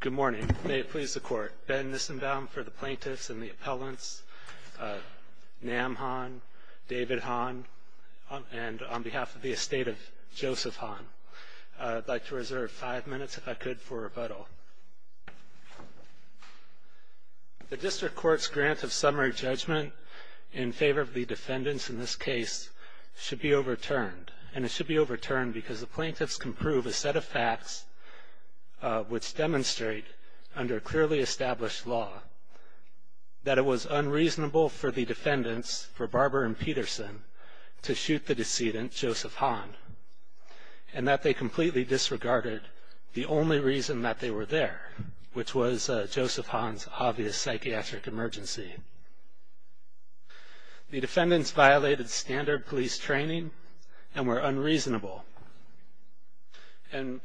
Good morning. May it please the Court. Ben Nissenbaum for the plaintiffs and the appellants. Nam Han, David Han, and on behalf of the estate of Joseph Han. I'd like to reserve five minutes, if I could, for rebuttal. The District Court's grant of summary judgment in favor of the defendants in this case should be overturned. And it should be overturned because the plaintiffs can prove a set of facts which demonstrate, under clearly established law, that it was unreasonable for the defendants, for Barber and Peterson, to shoot the decedent, Joseph Han, and that they completely disregarded the only reason that they were there, which was Joseph Han's obvious psychiatric emergency. The defendants violated standard police training and were unreasonable. And,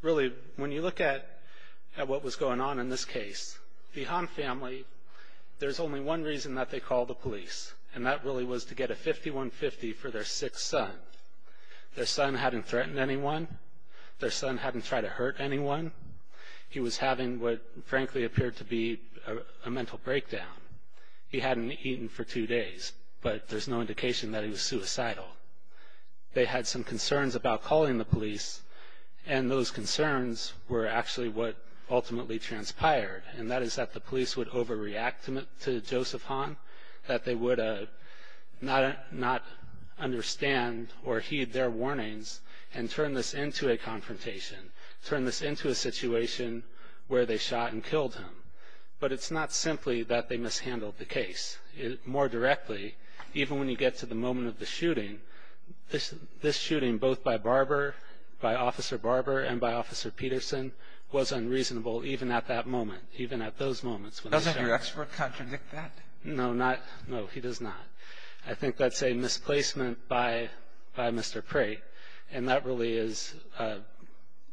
really, when you look at what was going on in this case, the Han family, there's only one reason that they called the police, and that really was to get a 51-50 for their sick son. Their son hadn't threatened anyone. Their son hadn't tried to hurt anyone. He was having what frankly appeared to be a mental breakdown. He hadn't eaten for two days, but there's no indication that he was suicidal. They had some concerns about calling the police, and those concerns were actually what ultimately transpired, and that is that the police would overreact to Joseph Han, that they would not understand or heed their warnings and turn this into a confrontation, turn this into a situation where they shot and killed him. But it's not simply that they mishandled the case. More directly, even when you get to the moment of the shooting, this shooting, both by Barber, by Officer Barber, and by Officer Peterson, was unreasonable even at that moment, even at those moments. Doesn't your expert contradict that? No, he does not. I think that's a misplacement by Mr. Prate, and that really is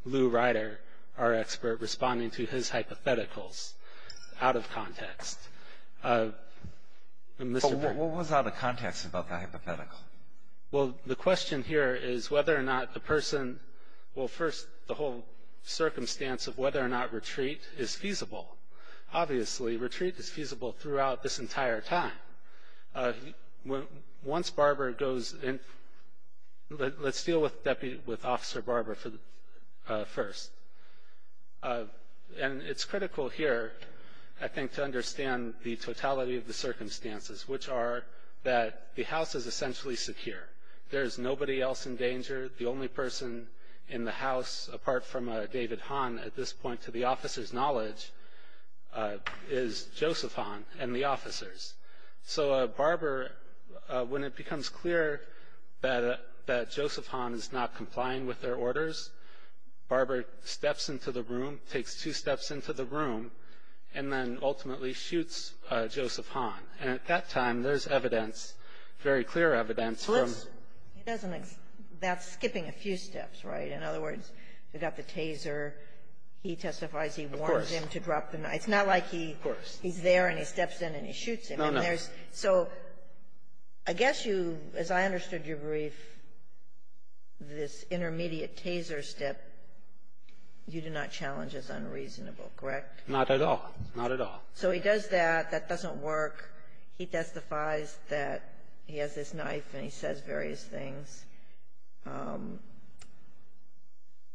Lou Ryder, our expert, responding to his hypotheticals out of context. But what was out of context about that hypothetical? Well, the question here is whether or not the person, well, first, the whole circumstance of whether or not retreat is feasible. Obviously, retreat is feasible throughout this entire time. Once Barber goes in, let's deal with Officer Barber first. And it's critical here, I think, to understand the totality of the circumstances, which are that the house is essentially secure. There is nobody else in danger. The only person in the house, apart from David Hahn at this point, to the officer's knowledge, is Joseph Hahn and the officers. So Barber, when it becomes clear that Joseph Hahn is not complying with their orders, Barber steps into the room, takes two steps into the room, and then ultimately shoots Joseph Hahn. And at that time, there's evidence, very clear evidence. Well, that's skipping a few steps, right? In other words, we've got the taser. He testifies. He warns him to drop the knife. Of course. It's not like he's there and he steps in and he shoots him. No, no. So I guess you, as I understood your brief, this intermediate taser step, you do not challenge as unreasonable, correct? Not at all. Not at all. So he does that. That doesn't work. He testifies that he has this knife and he says various things.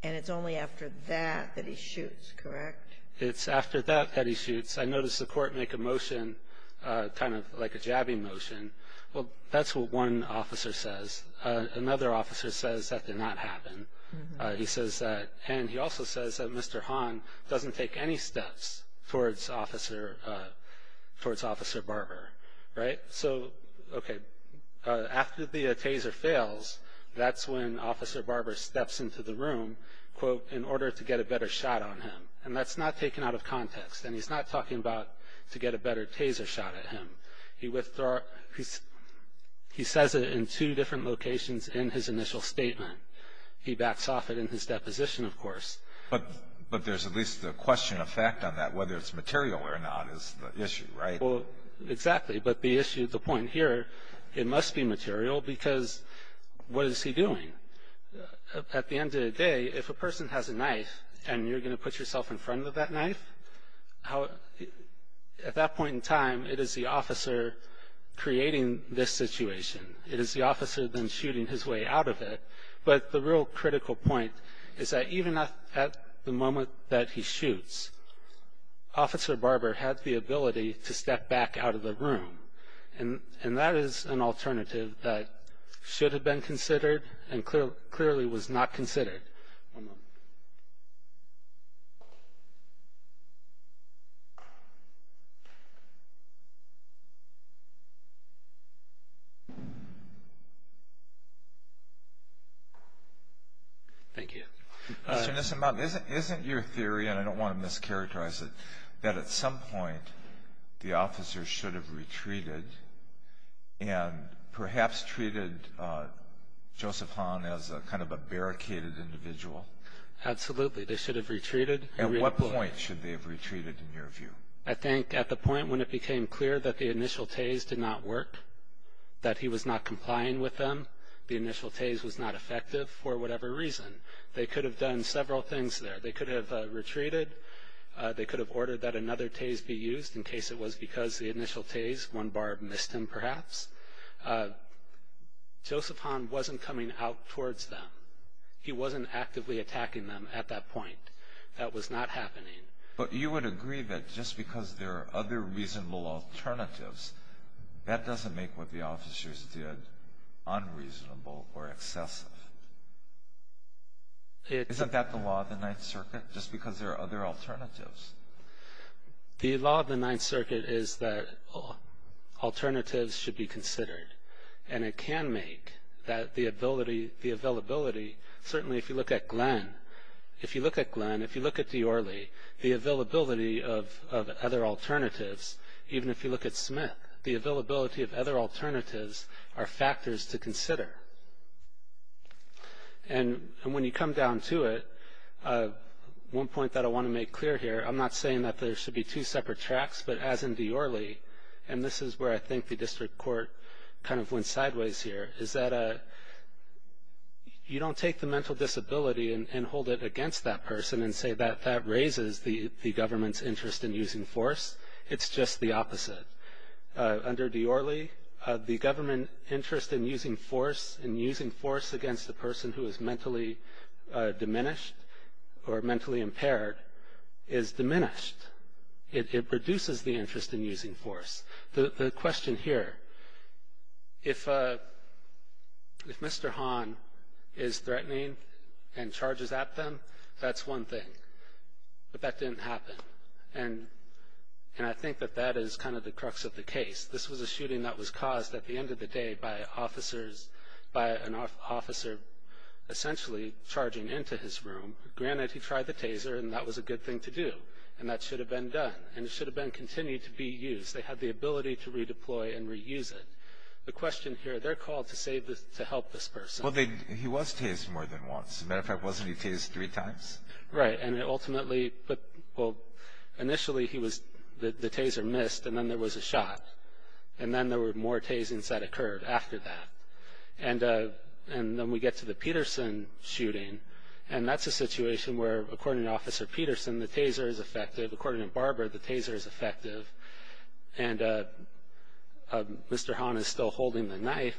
And it's only after that that he shoots, correct? It's after that that he shoots. I noticed the court make a motion, kind of like a jabbing motion. Well, that's what one officer says. Another officer says that did not happen. And he also says that Mr. Hahn doesn't take any steps towards Officer Barber, right? So, okay, after the taser fails, that's when Officer Barber steps into the room, quote, in order to get a better shot on him. And that's not taken out of context, and he's not talking about to get a better taser shot at him. He says it in two different locations in his initial statement. He backs off it in his deposition, of course. But there's at least a question of fact on that, whether it's material or not, is the issue, right? Well, exactly. But the issue, the point here, it must be material because what is he doing? At the end of the day, if a person has a knife and you're going to put yourself in front of that knife, at that point in time it is the officer creating this situation. It is the officer then shooting his way out of it. But the real critical point is that even at the moment that he shoots, Officer Barber has the ability to step back out of the room. And that is an alternative that should have been considered and clearly was not considered. One moment. Thank you. Mr. Nissenbaum, isn't your theory, and I don't want to mischaracterize it, that at some point the officer should have retreated and perhaps treated Joseph Hahn as kind of a barricaded individual? Absolutely. They should have retreated. At what point should they have retreated in your view? I think at the point when it became clear that the initial tase did not work, that he was not complying with them, the initial tase was not effective for whatever reason. They could have done several things there. They could have retreated. They could have ordered that another tase be used in case it was because the initial tase, one bar missed him perhaps. Joseph Hahn wasn't coming out towards them. He wasn't actively attacking them at that point. That was not happening. But you would agree that just because there are other reasonable alternatives, that doesn't make what the officers did unreasonable or excessive. Isn't that the law of the Ninth Circuit? Just because there are other alternatives. The law of the Ninth Circuit is that alternatives should be considered, and it can make the availability, certainly if you look at Glenn, if you look at De Orley, the availability of other alternatives, even if you look at Smith, And when you come down to it, one point that I want to make clear here, I'm not saying that there should be two separate tracks, but as in De Orley, and this is where I think the district court kind of went sideways here, is that you don't take the mental disability and hold it against that person and say that that raises the government's interest in using force. It's just the opposite. Under De Orley, the government interest in using force against a person who is mentally diminished or mentally impaired is diminished. It reduces the interest in using force. The question here, if Mr. Hahn is threatening and charges at them, that's one thing. But that didn't happen. And I think that that is kind of the crux of the case. This was a shooting that was caused at the end of the day by an officer essentially charging into his room. Granted, he tried the taser, and that was a good thing to do, and that should have been done, and it should have been continued to be used. They had the ability to redeploy and reuse it. The question here, they're called to help this person. Well, he was tased more than once. As a matter of fact, wasn't he tased three times? Right, and it ultimately put, well, initially he was, the taser missed, and then there was a shot. And then there were more tasings that occurred after that. And then we get to the Peterson shooting, and that's a situation where, according to Officer Peterson, the taser is effective. According to Barbara, the taser is effective. And Mr. Hahn is still holding the knife.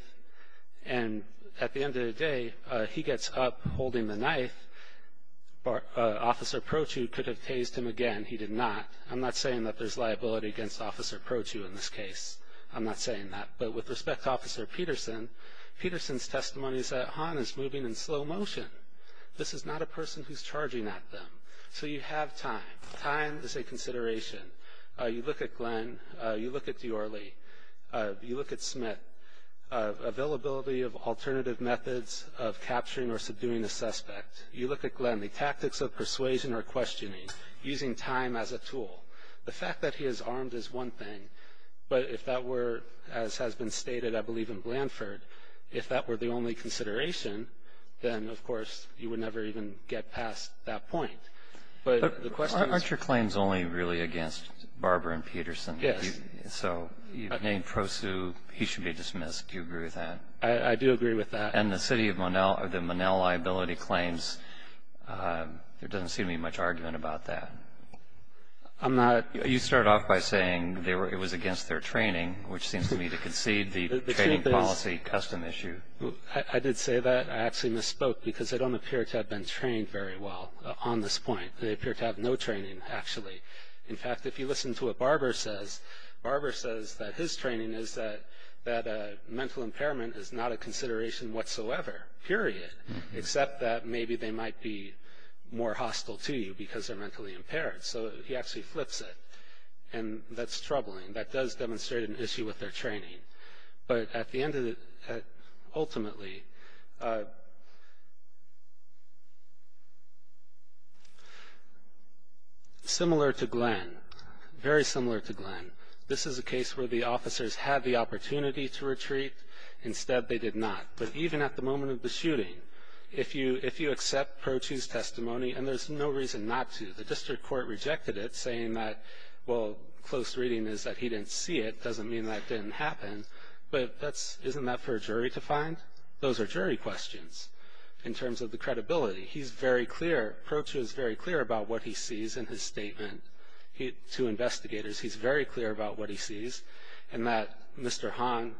And at the end of the day, he gets up holding the knife. Officer Prochu could have tased him again. He did not. I'm not saying that there's liability against Officer Prochu in this case. I'm not saying that. But with respect to Officer Peterson, Peterson's testimony is that Hahn is moving in slow motion. This is not a person who's charging at them. So you have time. Time is a consideration. You look at Glenn. You look at Dior-Lee. You look at Smith. Availability of alternative methods of capturing or subduing a suspect. You look at Glenn. The tactics of persuasion or questioning. Using time as a tool. The fact that he is armed is one thing. But if that were, as has been stated, I believe, in Blanford, if that were the only consideration, then, of course, you would never even get past that point. But the question is. Aren't your claims only really against Barbara and Peterson? Yes. So you've named Prosue. He should be dismissed. Do you agree with that? I do agree with that. And the city of Monell, the Monell liability claims, there doesn't seem to be much argument about that. I'm not. You started off by saying it was against their training, which seems to me to concede the training policy custom issue. I did say that. I actually misspoke because they don't appear to have been trained very well on this point. They appear to have no training, actually. In fact, if you listen to what Barbara says, Barbara says that his training is that mental impairment is not a consideration whatsoever, period, except that maybe they might be more hostile to you because they're mentally impaired. So he actually flips it. And that's troubling. That does demonstrate an issue with their training. But at the end of it, ultimately, similar to Glenn, very similar to Glenn, this is a case where the officers had the opportunity to retreat. Instead, they did not. But even at the moment of the shooting, if you accept Prosue's testimony, and there's no reason not to. The district court rejected it, saying that, well, close reading is that he didn't see it. Doesn't mean that didn't happen. But isn't that for a jury to find? Those are jury questions in terms of the credibility. Prosue is very clear about what he sees in his statement to investigators. He's very clear about what he sees, and that Mr. Hong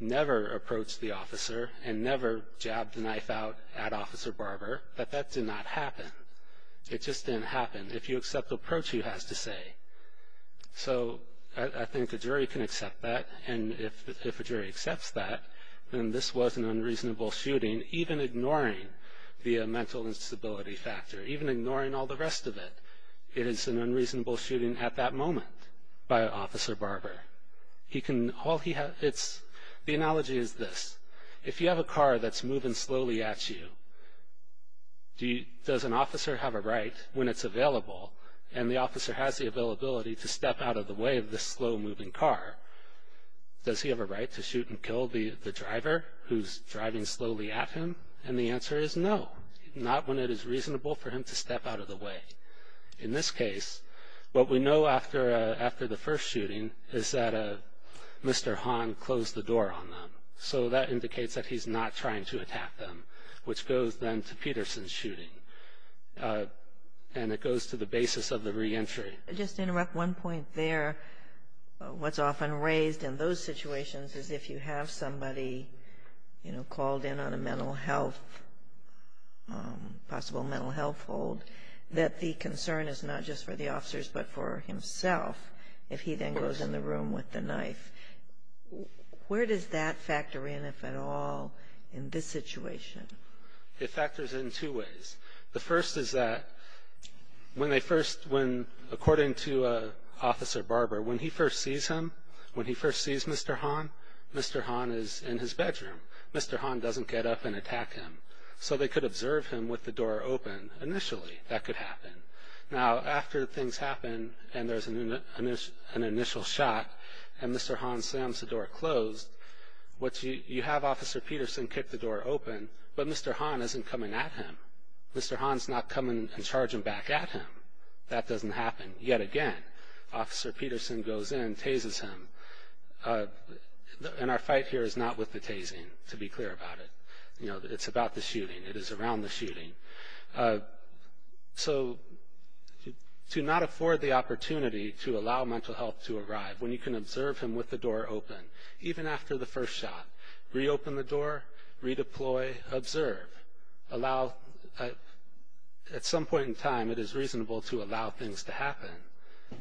never approached the officer and never jabbed the knife out at Officer Barber, that that did not happen. It just didn't happen. If you accept Prosue has to say. So I think a jury can accept that. And if a jury accepts that, then this was an unreasonable shooting, even ignoring the mental instability factor, even ignoring all the rest of it. It is an unreasonable shooting at that moment by Officer Barber. The analogy is this. If you have a car that's moving slowly at you, does an officer have a right, when it's available, and the officer has the availability to step out of the way of this slow-moving car, does he have a right to shoot and kill the driver who's driving slowly at him? And the answer is no, not when it is reasonable for him to step out of the way. In this case, what we know after the first shooting is that Mr. Hong closed the door on them. So that indicates that he's not trying to attack them, which goes then to Peterson's shooting, and it goes to the basis of the reentry. Just to interrupt one point there, what's often raised in those situations is if you have somebody called in on a possible mental health hold, that the concern is not just for the officers but for himself, if he then goes in the room with the knife. Where does that factor in, if at all, in this situation? It factors in two ways. The first is that when they first, when, according to Officer Barber, when he first sees him, when he first sees Mr. Hong, Mr. Hong is in his bedroom. Mr. Hong doesn't get up and attack him. So they could observe him with the door open initially. That could happen. Now, after things happen and there's an initial shot and Mr. Hong slams the door closed, you have Officer Peterson kick the door open, but Mr. Hong isn't coming at him. Mr. Hong's not coming and charging back at him. That doesn't happen. Yet again, Officer Peterson goes in, tases him, and our fight here is not with the tasing, to be clear about it. It's about the shooting. It is around the shooting. So to not afford the opportunity to allow mental health to arrive when you can observe him with the door open, even after the first shot, reopen the door, redeploy, observe. Allow, at some point in time, it is reasonable to allow things to happen,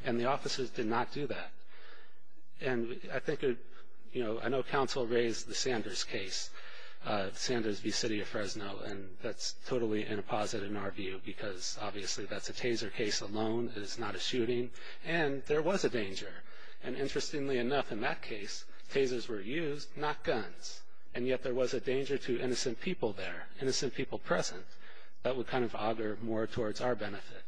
and the officers did not do that. And I think, you know, I know counsel raised the Sanders case, Sanders v. City of Fresno, and that's totally in a posit in our view because obviously that's a taser case alone. It is not a shooting. And there was a danger. And interestingly enough, in that case, tasers were used, not guns. And yet there was a danger to innocent people there, innocent people present. That would kind of augur more towards our benefit.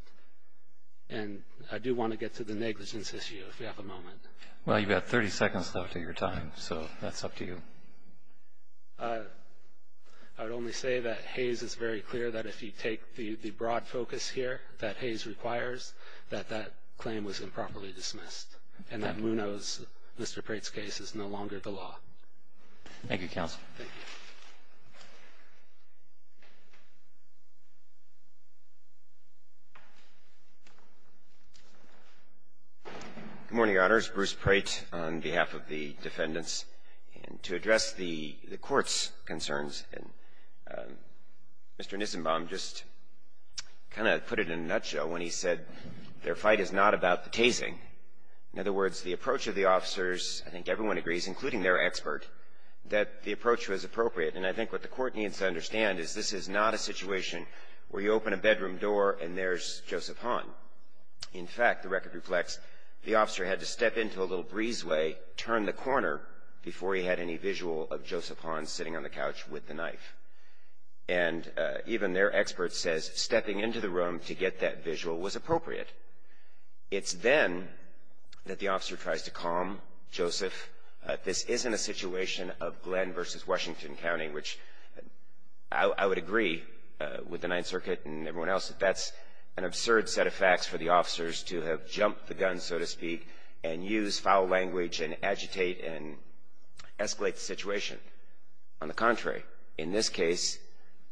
And I do want to get to the negligence issue if we have a moment. Well, you've got 30 seconds left of your time, so that's up to you. I would only say that Hayes is very clear that if you take the broad focus here that Hayes requires, that that claim was improperly dismissed, and that Munoz, Mr. Prate's case, is no longer the law. Thank you, counsel. Thank you. Good morning, Your Honors. Bruce Prate on behalf of the defendants. And to address the court's concerns, Mr. Nissenbaum just kind of put it in a nutshell when he said their fight is not about the tasing. In other words, the approach of the officers, I think everyone agrees, including their expert, that the approach was appropriate. And I think what the court needs to understand is this is not a situation where you open a bedroom door and there's Joseph Hahn. In fact, the record reflects the officer had to step into a little breezeway, turn the corner before he had any visual of Joseph Hahn sitting on the couch with the knife. And even their expert says stepping into the room to get that visual was appropriate. It's then that the officer tries to calm Joseph. This isn't a situation of Glenn v. Washington County, which I would agree with the Ninth Circuit and everyone else that that's an absurd set of facts for the officers to have jumped the gun, so to speak, and use foul language and agitate and escalate the situation. On the contrary, in this case,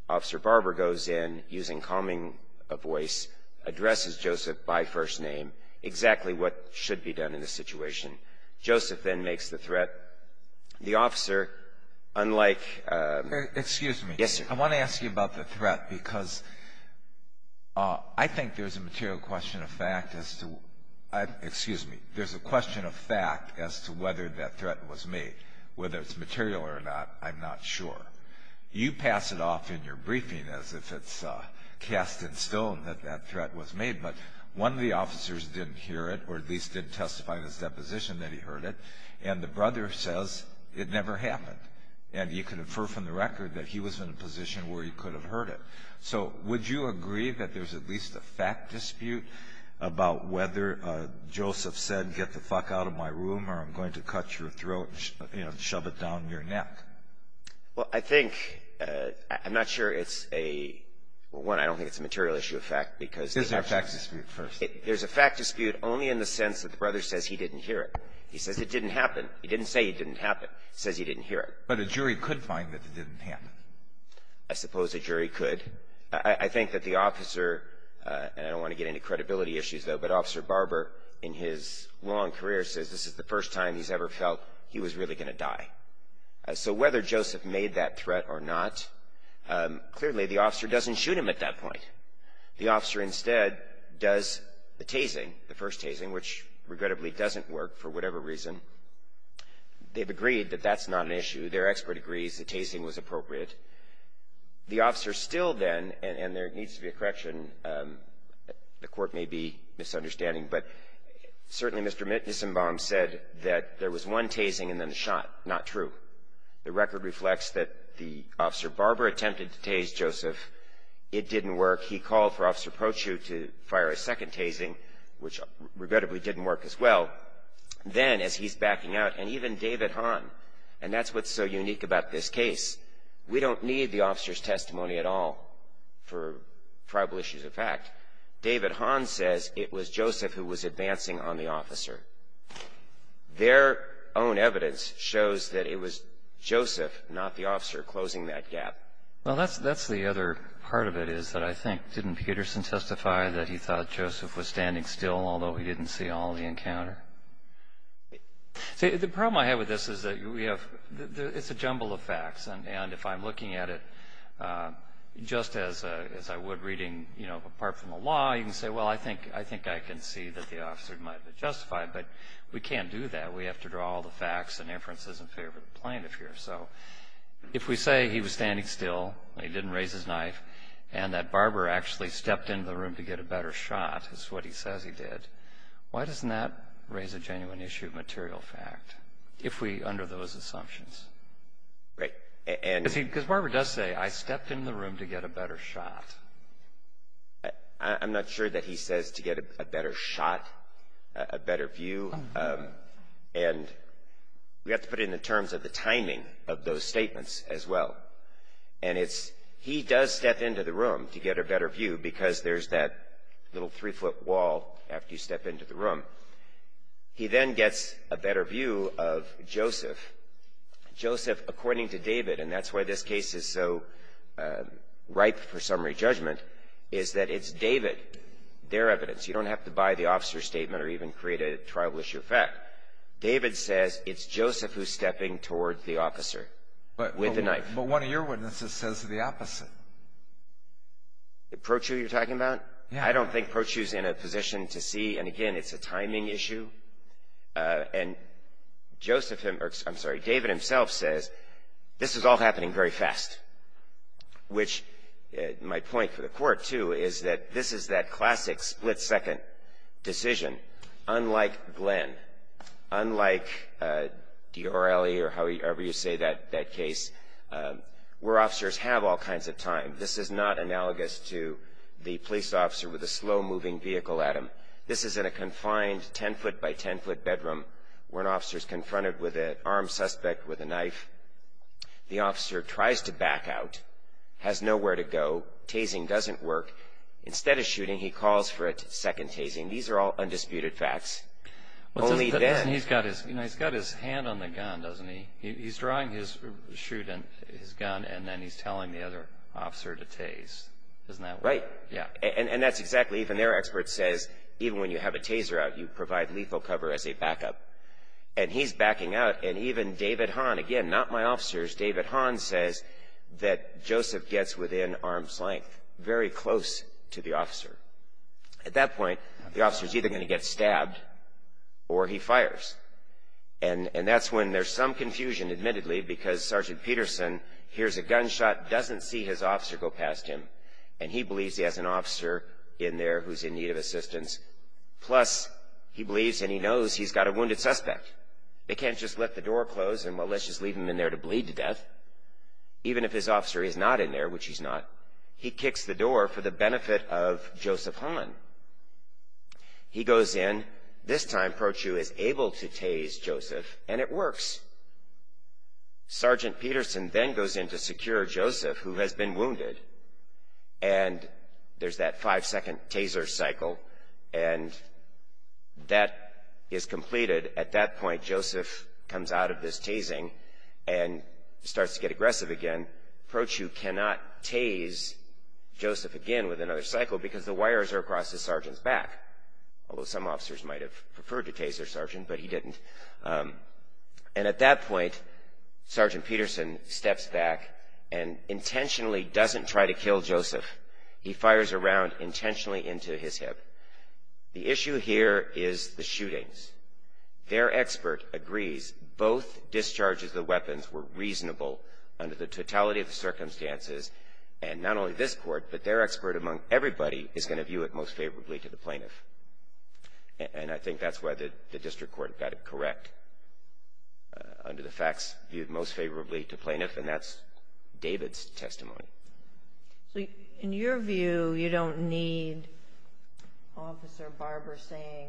Officer Barber goes in using calming a voice, addresses Joseph by first name, exactly what should be done in this situation. Joseph then makes the threat. The officer, unlike ---- Excuse me. Yes, sir. I want to ask you about the threat because I think there's a material question of fact as to ---- excuse me. There's a question of fact as to whether that threat was made. Whether it's material or not, I'm not sure. You pass it off in your briefing as if it's cast in stone that that threat was made. But one of the officers didn't hear it or at least didn't testify in his deposition that he heard it. And the brother says it never happened. And you can infer from the record that he was in a position where he could have heard it. So would you agree that there's at least a fact dispute about whether Joseph said, get the fuck out of my room or I'm going to cut your throat and shove it down your neck? Well, I think ---- I'm not sure it's a ---- well, one, I don't think it's a material issue of fact because ----- There's a fact dispute first. There's a fact dispute only in the sense that the brother says he didn't hear it. He says it didn't happen. He didn't say it didn't happen. He says he didn't hear it. But a jury could find that it didn't happen. I suppose a jury could. I think that the officer, and I don't want to get into credibility issues, though, but Officer Barber in his long career says this is the first time he's ever felt he was really going to die. So whether Joseph made that threat or not, clearly the officer doesn't shoot him at that point. The officer instead does the tasing, the first tasing, which regrettably doesn't work for whatever reason. They've agreed that that's not an issue. Their expert agrees the tasing was appropriate. The officer still then, and there needs to be a correction, the Court may be misunderstanding, but certainly Mr. Nissenbaum said that there was one tasing and then the shot. Not true. The record reflects that the officer Barber attempted to tase Joseph. It didn't work. He called for Officer Prochu to fire a second tasing, which regrettably didn't work as well. Then, as he's backing out, and even David Hahn, and that's what's so unique about this case, we don't need the officer's testimony at all for probable issues of fact. David Hahn says it was Joseph who was advancing on the officer. Their own evidence shows that it was Joseph, not the officer, closing that gap. Well, that's the other part of it is that I think, didn't Peterson testify that he thought Joseph was standing still, although he didn't see all the encounter? See, the problem I have with this is that we have, it's a jumble of facts. And if I'm looking at it just as I would reading, you know, apart from the law, you can say, well, I think I can see that the officer might have justified, but we can't do that. We have to draw all the facts and inferences in favor of the plaintiff here. So if we say he was standing still, he didn't raise his knife, and that Barber actually stepped into the room to get a better shot, is what he says he did, why doesn't that raise a genuine issue of material fact if we're under those assumptions? Right. Because Barber does say, I stepped into the room to get a better shot. I'm not sure that he says to get a better shot, a better view, and we have to put it in terms of the timing of those statements as well. And it's, he does step into the room to get a better view because there's that little three-foot wall after you step into the room. He then gets a better view of Joseph. Joseph, according to David, and that's why this case is so ripe for summary judgment, is that it's David, their evidence. You don't have to buy the officer's statement or even create a trial issue fact. David says it's Joseph who's stepping toward the officer with the knife. But one of your witnesses says the opposite. The protrude you're talking about? Yeah. I don't think protrude's in a position to see, and again, it's a timing issue. And Joseph, I'm sorry, David himself says this is all happening very fast, which my point for the Court, too, is that this is that classic split-second decision. Unlike Glenn, unlike Diorrelli or however you say that case, where officers have all kinds of time. This is not analogous to the police officer with a slow-moving vehicle at him. This is in a confined 10-foot-by-10-foot bedroom where an officer's confronted with an armed suspect with a knife. The officer tries to back out, has nowhere to go. Tasing doesn't work. Instead of shooting, he calls for a second tasing. These are all undisputed facts. He's got his hand on the gun, doesn't he? He's drawing his gun, and then he's telling the other officer to tase. Isn't that right? Right. Yeah. And that's exactly, even their expert says, even when you have a taser out, you provide lethal cover as a backup. And he's backing out, and even David Hahn, again, not my officers, David Hahn says that Joseph gets within arm's length, very close to the officer. At that point, the officer's either going to get stabbed or he fires. And that's when there's some confusion, admittedly, because Sergeant Peterson hears a gunshot, doesn't see his officer go past him, and he believes he has an officer in there who's in need of assistance. Plus, he believes and he knows he's got a wounded suspect. They can't just let the door close and, well, let's just leave him in there to bleed to death. Even if his officer is not in there, which he's not, he kicks the door for the benefit of Joseph Hahn. He goes in. This time, Prochu is able to tase Joseph, and it works. Sergeant Peterson then goes in to secure Joseph, who has been wounded, and there's that five-second taser cycle, and that is completed. At that point, Joseph comes out of this tasing and starts to get aggressive again. Prochu cannot tase Joseph again with another cycle because the wires are across his sergeant's back, although some officers might have preferred to tase their sergeant, but he didn't. And at that point, Sergeant Peterson steps back and intentionally doesn't try to kill Joseph. He fires a round intentionally into his hip. The issue here is the shootings. Their expert agrees both discharges of weapons were reasonable under the totality of the circumstances, and not only this court, but their expert among everybody is going to view it most favorably to the plaintiff. And I think that's why the district court got it correct under the facts, viewed most favorably to plaintiff, and that's David's testimony. So in your view, you don't need Officer Barber saying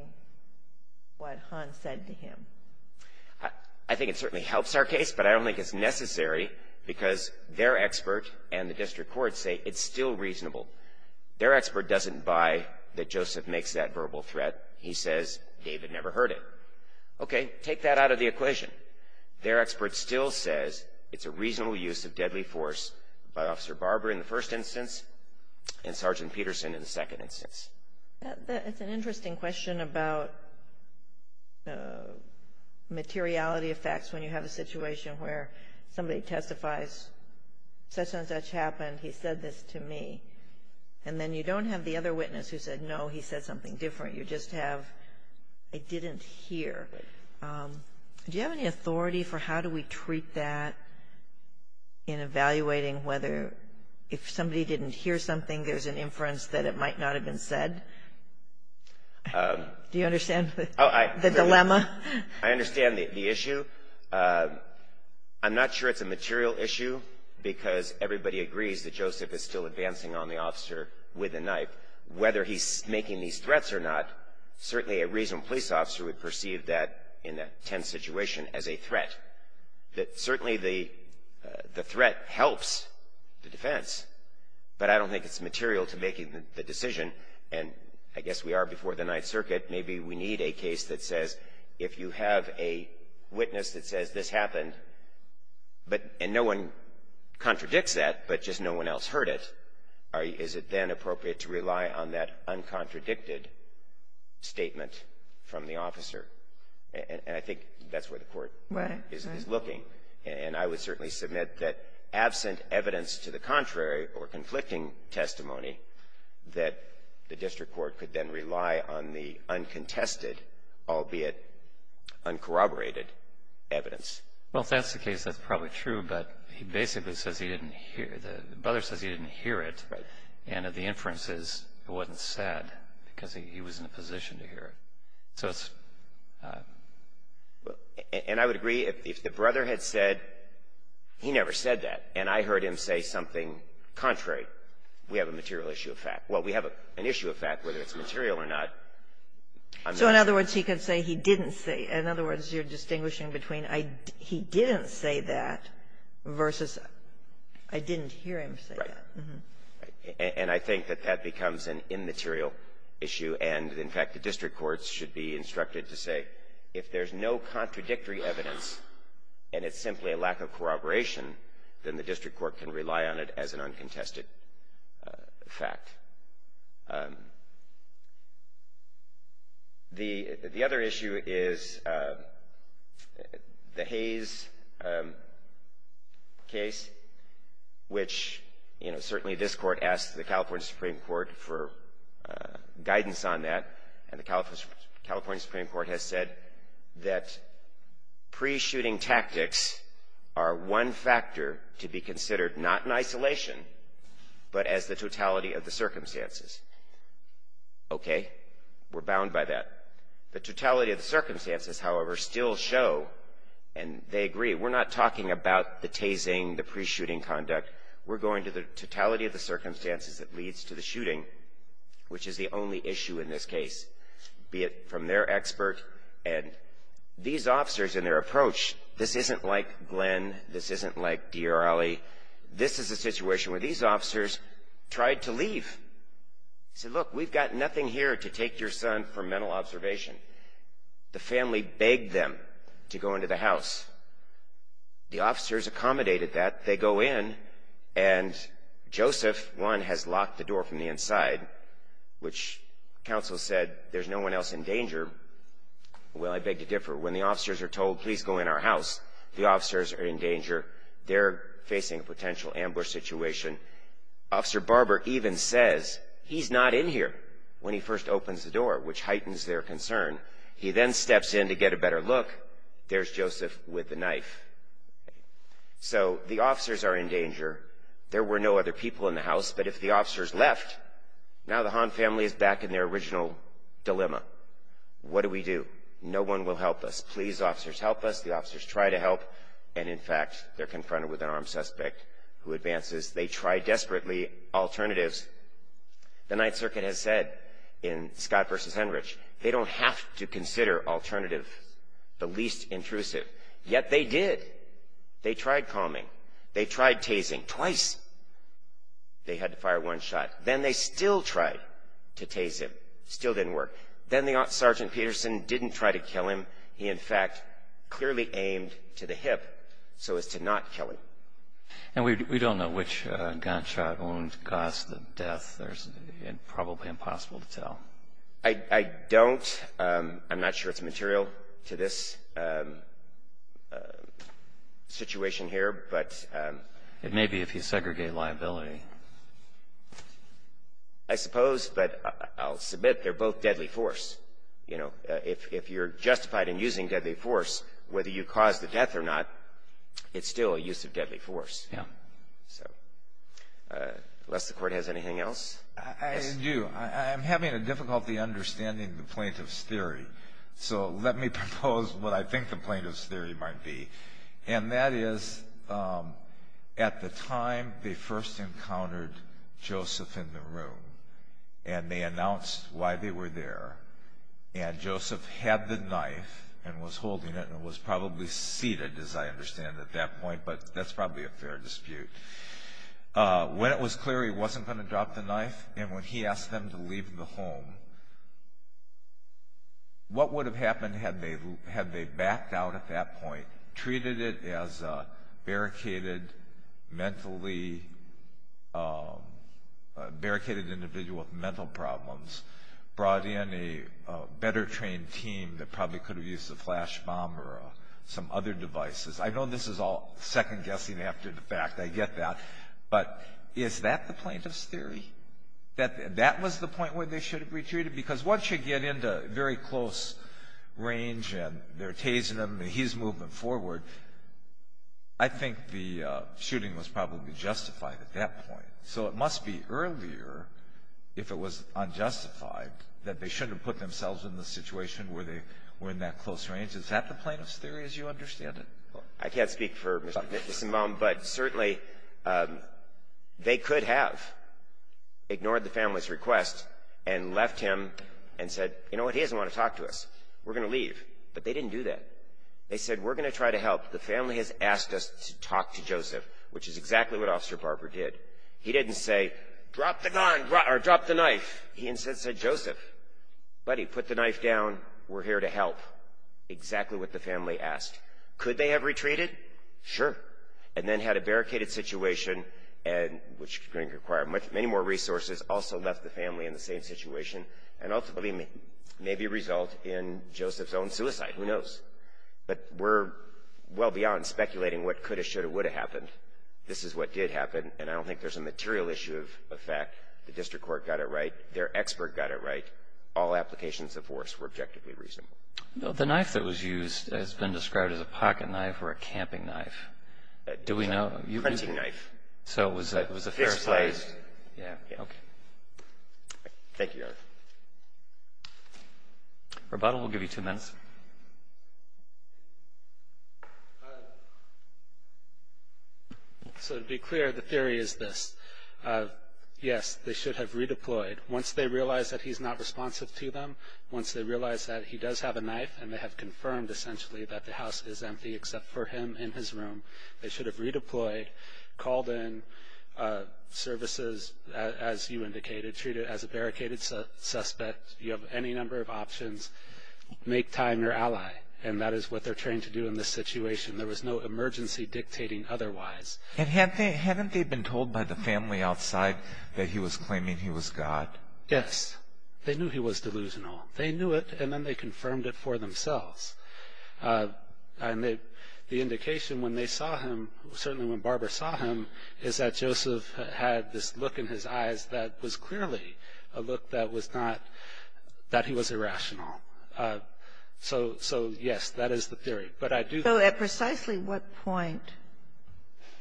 what Hahn said to him? I think it certainly helps our case, but I don't think it's necessary because their expert and the district court say it's still reasonable. Their expert doesn't buy that Joseph makes that verbal threat. He says David never heard it. Okay, take that out of the equation. Their expert still says it's a reasonable use of deadly force by Officer Barber in the first instance and Sergeant Peterson in the second instance. That's an interesting question about materiality of facts when you have a situation where somebody testifies such and such happened. He said this to me. And then you don't have the other witness who said, no, he said something different. You just have, I didn't hear. Do you have any authority for how do we treat that in evaluating whether if somebody didn't hear something there's an inference that it might not have been said? Do you understand the dilemma? I understand the issue. I'm not sure it's a material issue because everybody agrees that Joseph is still advancing on the officer with a knife. Whether he's making these threats or not, certainly a reasonable police officer would perceive that in a tense situation as a threat. Certainly the threat helps the defense, but I don't think it's material to making the decision. And I guess we are before the Ninth Circuit. Maybe we need a case that says if you have a witness that says this happened, and no one contradicts that, but just no one else heard it, is it then appropriate to rely on that uncontradicted statement from the officer? And I think that's where the Court is looking. And I would certainly submit that absent evidence to the contrary or conflicting testimony that the district court could then rely on the uncontested, albeit uncorroborated, evidence. Well, if that's the case, that's probably true. But he basically says he didn't hear. The brother says he didn't hear it. Right. And the inference is it wasn't said because he was in a position to hear it. So it's… And I would agree. If the brother had said he never said that, and I heard him say something contrary, we have a material issue of fact. Well, we have an issue of fact, whether it's material or not. I'm not sure. So in other words, he could say he didn't say. In other words, you're distinguishing between he didn't say that versus I didn't hear him say that. Right. And I think that that becomes an immaterial issue. And, in fact, the district courts should be instructed to say if there's no contradictory evidence and it's simply a lack of corroboration, then the district court can rely on it as an uncontested fact. The other issue is the Hayes case, which, you know, certainly this Court asked the California Supreme Court for guidance on that. And the California Supreme Court has said that pre-shooting tactics are one factor to be considered, not in isolation, but as the totality of the circumstances. Okay. We're bound by that. The totality of the circumstances, however, still show, and they agree, we're not talking about the tasing, the pre-shooting conduct. We're going to the totality of the circumstances that leads to the shooting, which is the only issue in this case, be it from their expert. And these officers and their approach, this isn't like Glenn, this isn't like D. or Ali. This is a situation where these officers tried to leave. Said, look, we've got nothing here to take your son for mental observation. The family begged them to go into the house. The officers accommodated that. They go in, and Joseph, one, has locked the door from the inside, which counsel said there's no one else in danger. Well, I beg to differ. When the officers are told, please go in our house, the officers are in danger. They're facing a potential ambush situation. Officer Barber even says he's not in here when he first opens the door, which heightens their concern. He then steps in to get a better look. There's Joseph with the knife. So the officers are in danger. There were no other people in the house. But if the officers left, now the Hahn family is back in their original dilemma. What do we do? No one will help us. Please, officers, help us. The officers try to help. And, in fact, they're confronted with an armed suspect who advances. They try desperately alternatives. The Ninth Circuit has said in Scott v. Henrich, they don't have to consider alternative the least intrusive. Yet they did. They tried calming. They tried tasing twice. They had to fire one shot. Then they still tried to tase him. Still didn't work. Then the Sergeant Peterson didn't try to kill him. He, in fact, clearly aimed to the hip so as to not kill him. And we don't know which gunshot wound caused the death. It's probably impossible to tell. I don't. I'm not sure it's material to this situation here. It may be if you segregate liability. I suppose. But I'll submit they're both deadly force. If you're justified in using deadly force, whether you cause the death or not, it's still a use of deadly force. Unless the Court has anything else? I do. I'm having a difficulty understanding the plaintiff's theory. So let me propose what I think the plaintiff's theory might be. And that is, at the time they first encountered Joseph in the room and they announced why they were there, and Joseph had the knife and was holding it and was probably seated, as I understand, at that point. But that's probably a fair dispute. When it was clear he wasn't going to drop the knife and when he asked them to leave the home, what would have happened had they backed out at that point, treated it as a barricaded individual with mental problems, brought in a better-trained team that probably could have used a flash bomb or some other devices? I know this is all second-guessing after the fact. I get that. But is that the plaintiff's theory? That that was the point where they should have retreated? Because once you get into very close range and they're tasing him and he's moving forward, I think the shooting was probably justified at that point. So it must be earlier, if it was unjustified, that they shouldn't have put themselves in the situation where they were in that close range. Is that the plaintiff's theory as you understand it? I can't speak for Mr. Mitzenbaum, but certainly they could have ignored the family's request and left him and said, you know what? He doesn't want to talk to us. We're going to leave. But they didn't do that. They said, we're going to try to help. The family has asked us to talk to Joseph, which is exactly what Officer Barber did. He didn't say, drop the gun or drop the knife. He instead said, Joseph, buddy, put the knife down. We're here to help. Exactly what the family asked. Could they have retreated? Sure. And then had a barricaded situation, which is going to require many more resources, also left the family in the same situation, and ultimately may be a result in Joseph's own suicide. Who knows? But we're well beyond speculating what could have, should have, would have happened. This is what did happen, and I don't think there's a material issue of fact. The district court got it right. Their expert got it right. All applications of force were objectively reasonable. The knife that was used has been described as a pocket knife or a camping knife. Do we know? A printing knife. So it was a fair size. Yeah. Okay. Thank you, Your Honor. Rebuttal will give you two minutes. So to be clear, the theory is this. Yes, they should have redeployed. Once they realize that he's not responsive to them, once they realize that he does have a knife and they have confirmed, essentially, that the house is empty except for him in his room, they should have redeployed, called in services, as you indicated, treated as a barricaded suspect. You have any number of options. Make time your ally, and that is what they're trained to do in this situation. There was no emergency dictating otherwise. And haven't they been told by the family outside that he was claiming he was God? Yes. They knew he was delusional. They knew it, and then they confirmed it for themselves. And the indication when they saw him, certainly when Barbara saw him, is that Joseph had this look in his eyes that was clearly a look that was not that he was irrational. So, yes, that is the theory. So at precisely what point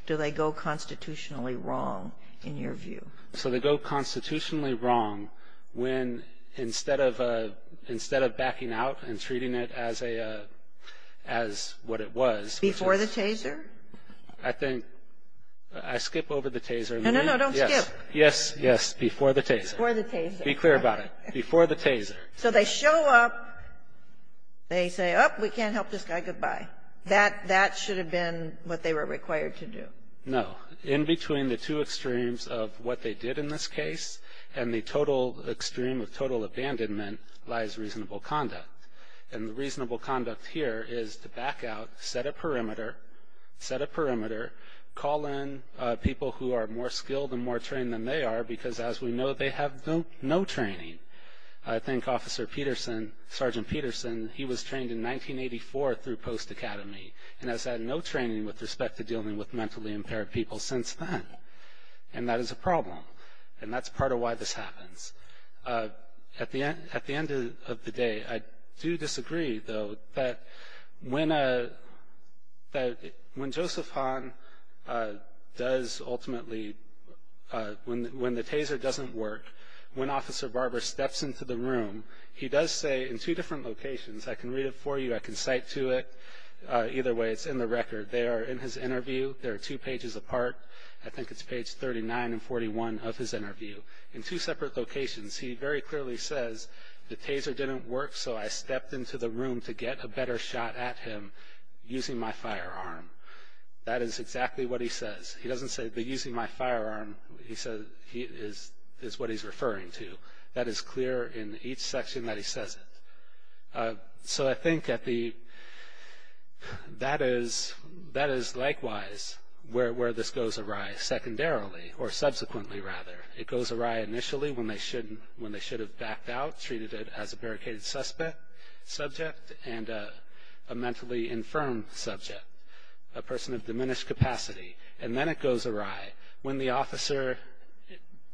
do they go constitutionally wrong, in your view? So they go constitutionally wrong when, instead of backing out and treating it as a, as what it was. Before the taser? I think, I skip over the taser. No, no, no. Don't skip. Yes, yes, before the taser. Before the taser. Be clear about it. Before the taser. So they show up. They say, oh, we can't help this guy. Goodbye. That should have been what they were required to do. No. In between the two extremes of what they did in this case, and the total extreme of total abandonment, lies reasonable conduct. And the reasonable conduct here is to back out, set a perimeter, set a perimeter, call in people who are more skilled and more trained than they are, because as we know, they have no training. I think Officer Peterson, Sergeant Peterson, he was trained in 1984 through Post Academy and has had no training with respect to dealing with mentally impaired people since then. And that is a problem. And that's part of why this happens. At the end of the day, I do disagree, though, that when Joseph Hahn does ultimately, when the taser doesn't work, when Officer Barber steps into the room, he does say in two different locations. I can read it for you. I can cite to it. Either way, it's in the record. They are in his interview. They are two pages apart. I think it's page 39 and 41 of his interview. In two separate locations, he very clearly says, the taser didn't work, so I stepped into the room to get a better shot at him using my firearm. That is exactly what he says. He doesn't say, but using my firearm is what he's referring to. That is clear in each section that he says it. So I think that is likewise where this goes awry, secondarily, or subsequently, rather. It goes awry initially when they should have backed out, treated it as a barricaded subject and a mentally infirm subject, a person of diminished capacity. And then it goes awry when the officer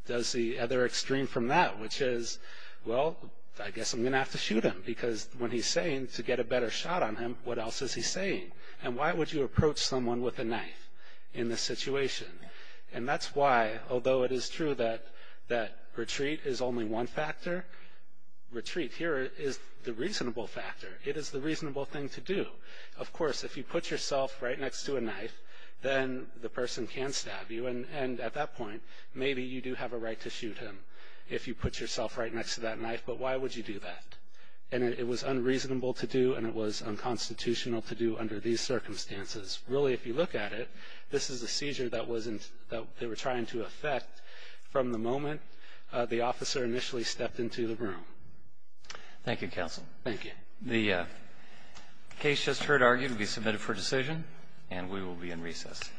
does the other extreme from that, which is, well, I guess I'm going to have to shoot him, because when he's saying to get a better shot on him, what else is he saying? And why would you approach someone with a knife in this situation? And that's why, although it is true that retreat is only one factor, retreat here is the reasonable factor. It is the reasonable thing to do. Of course, if you put yourself right next to a knife, then the person can stab you. And at that point, maybe you do have a right to shoot him if you put yourself right next to that knife, but why would you do that? And it was unreasonable to do, and it was unconstitutional to do under these circumstances. Really, if you look at it, this is a seizure that they were trying to effect from the moment the officer initially stepped into the room. Thank you, counsel. Thank you. The case just heard argued to be submitted for decision, and we will be in recess.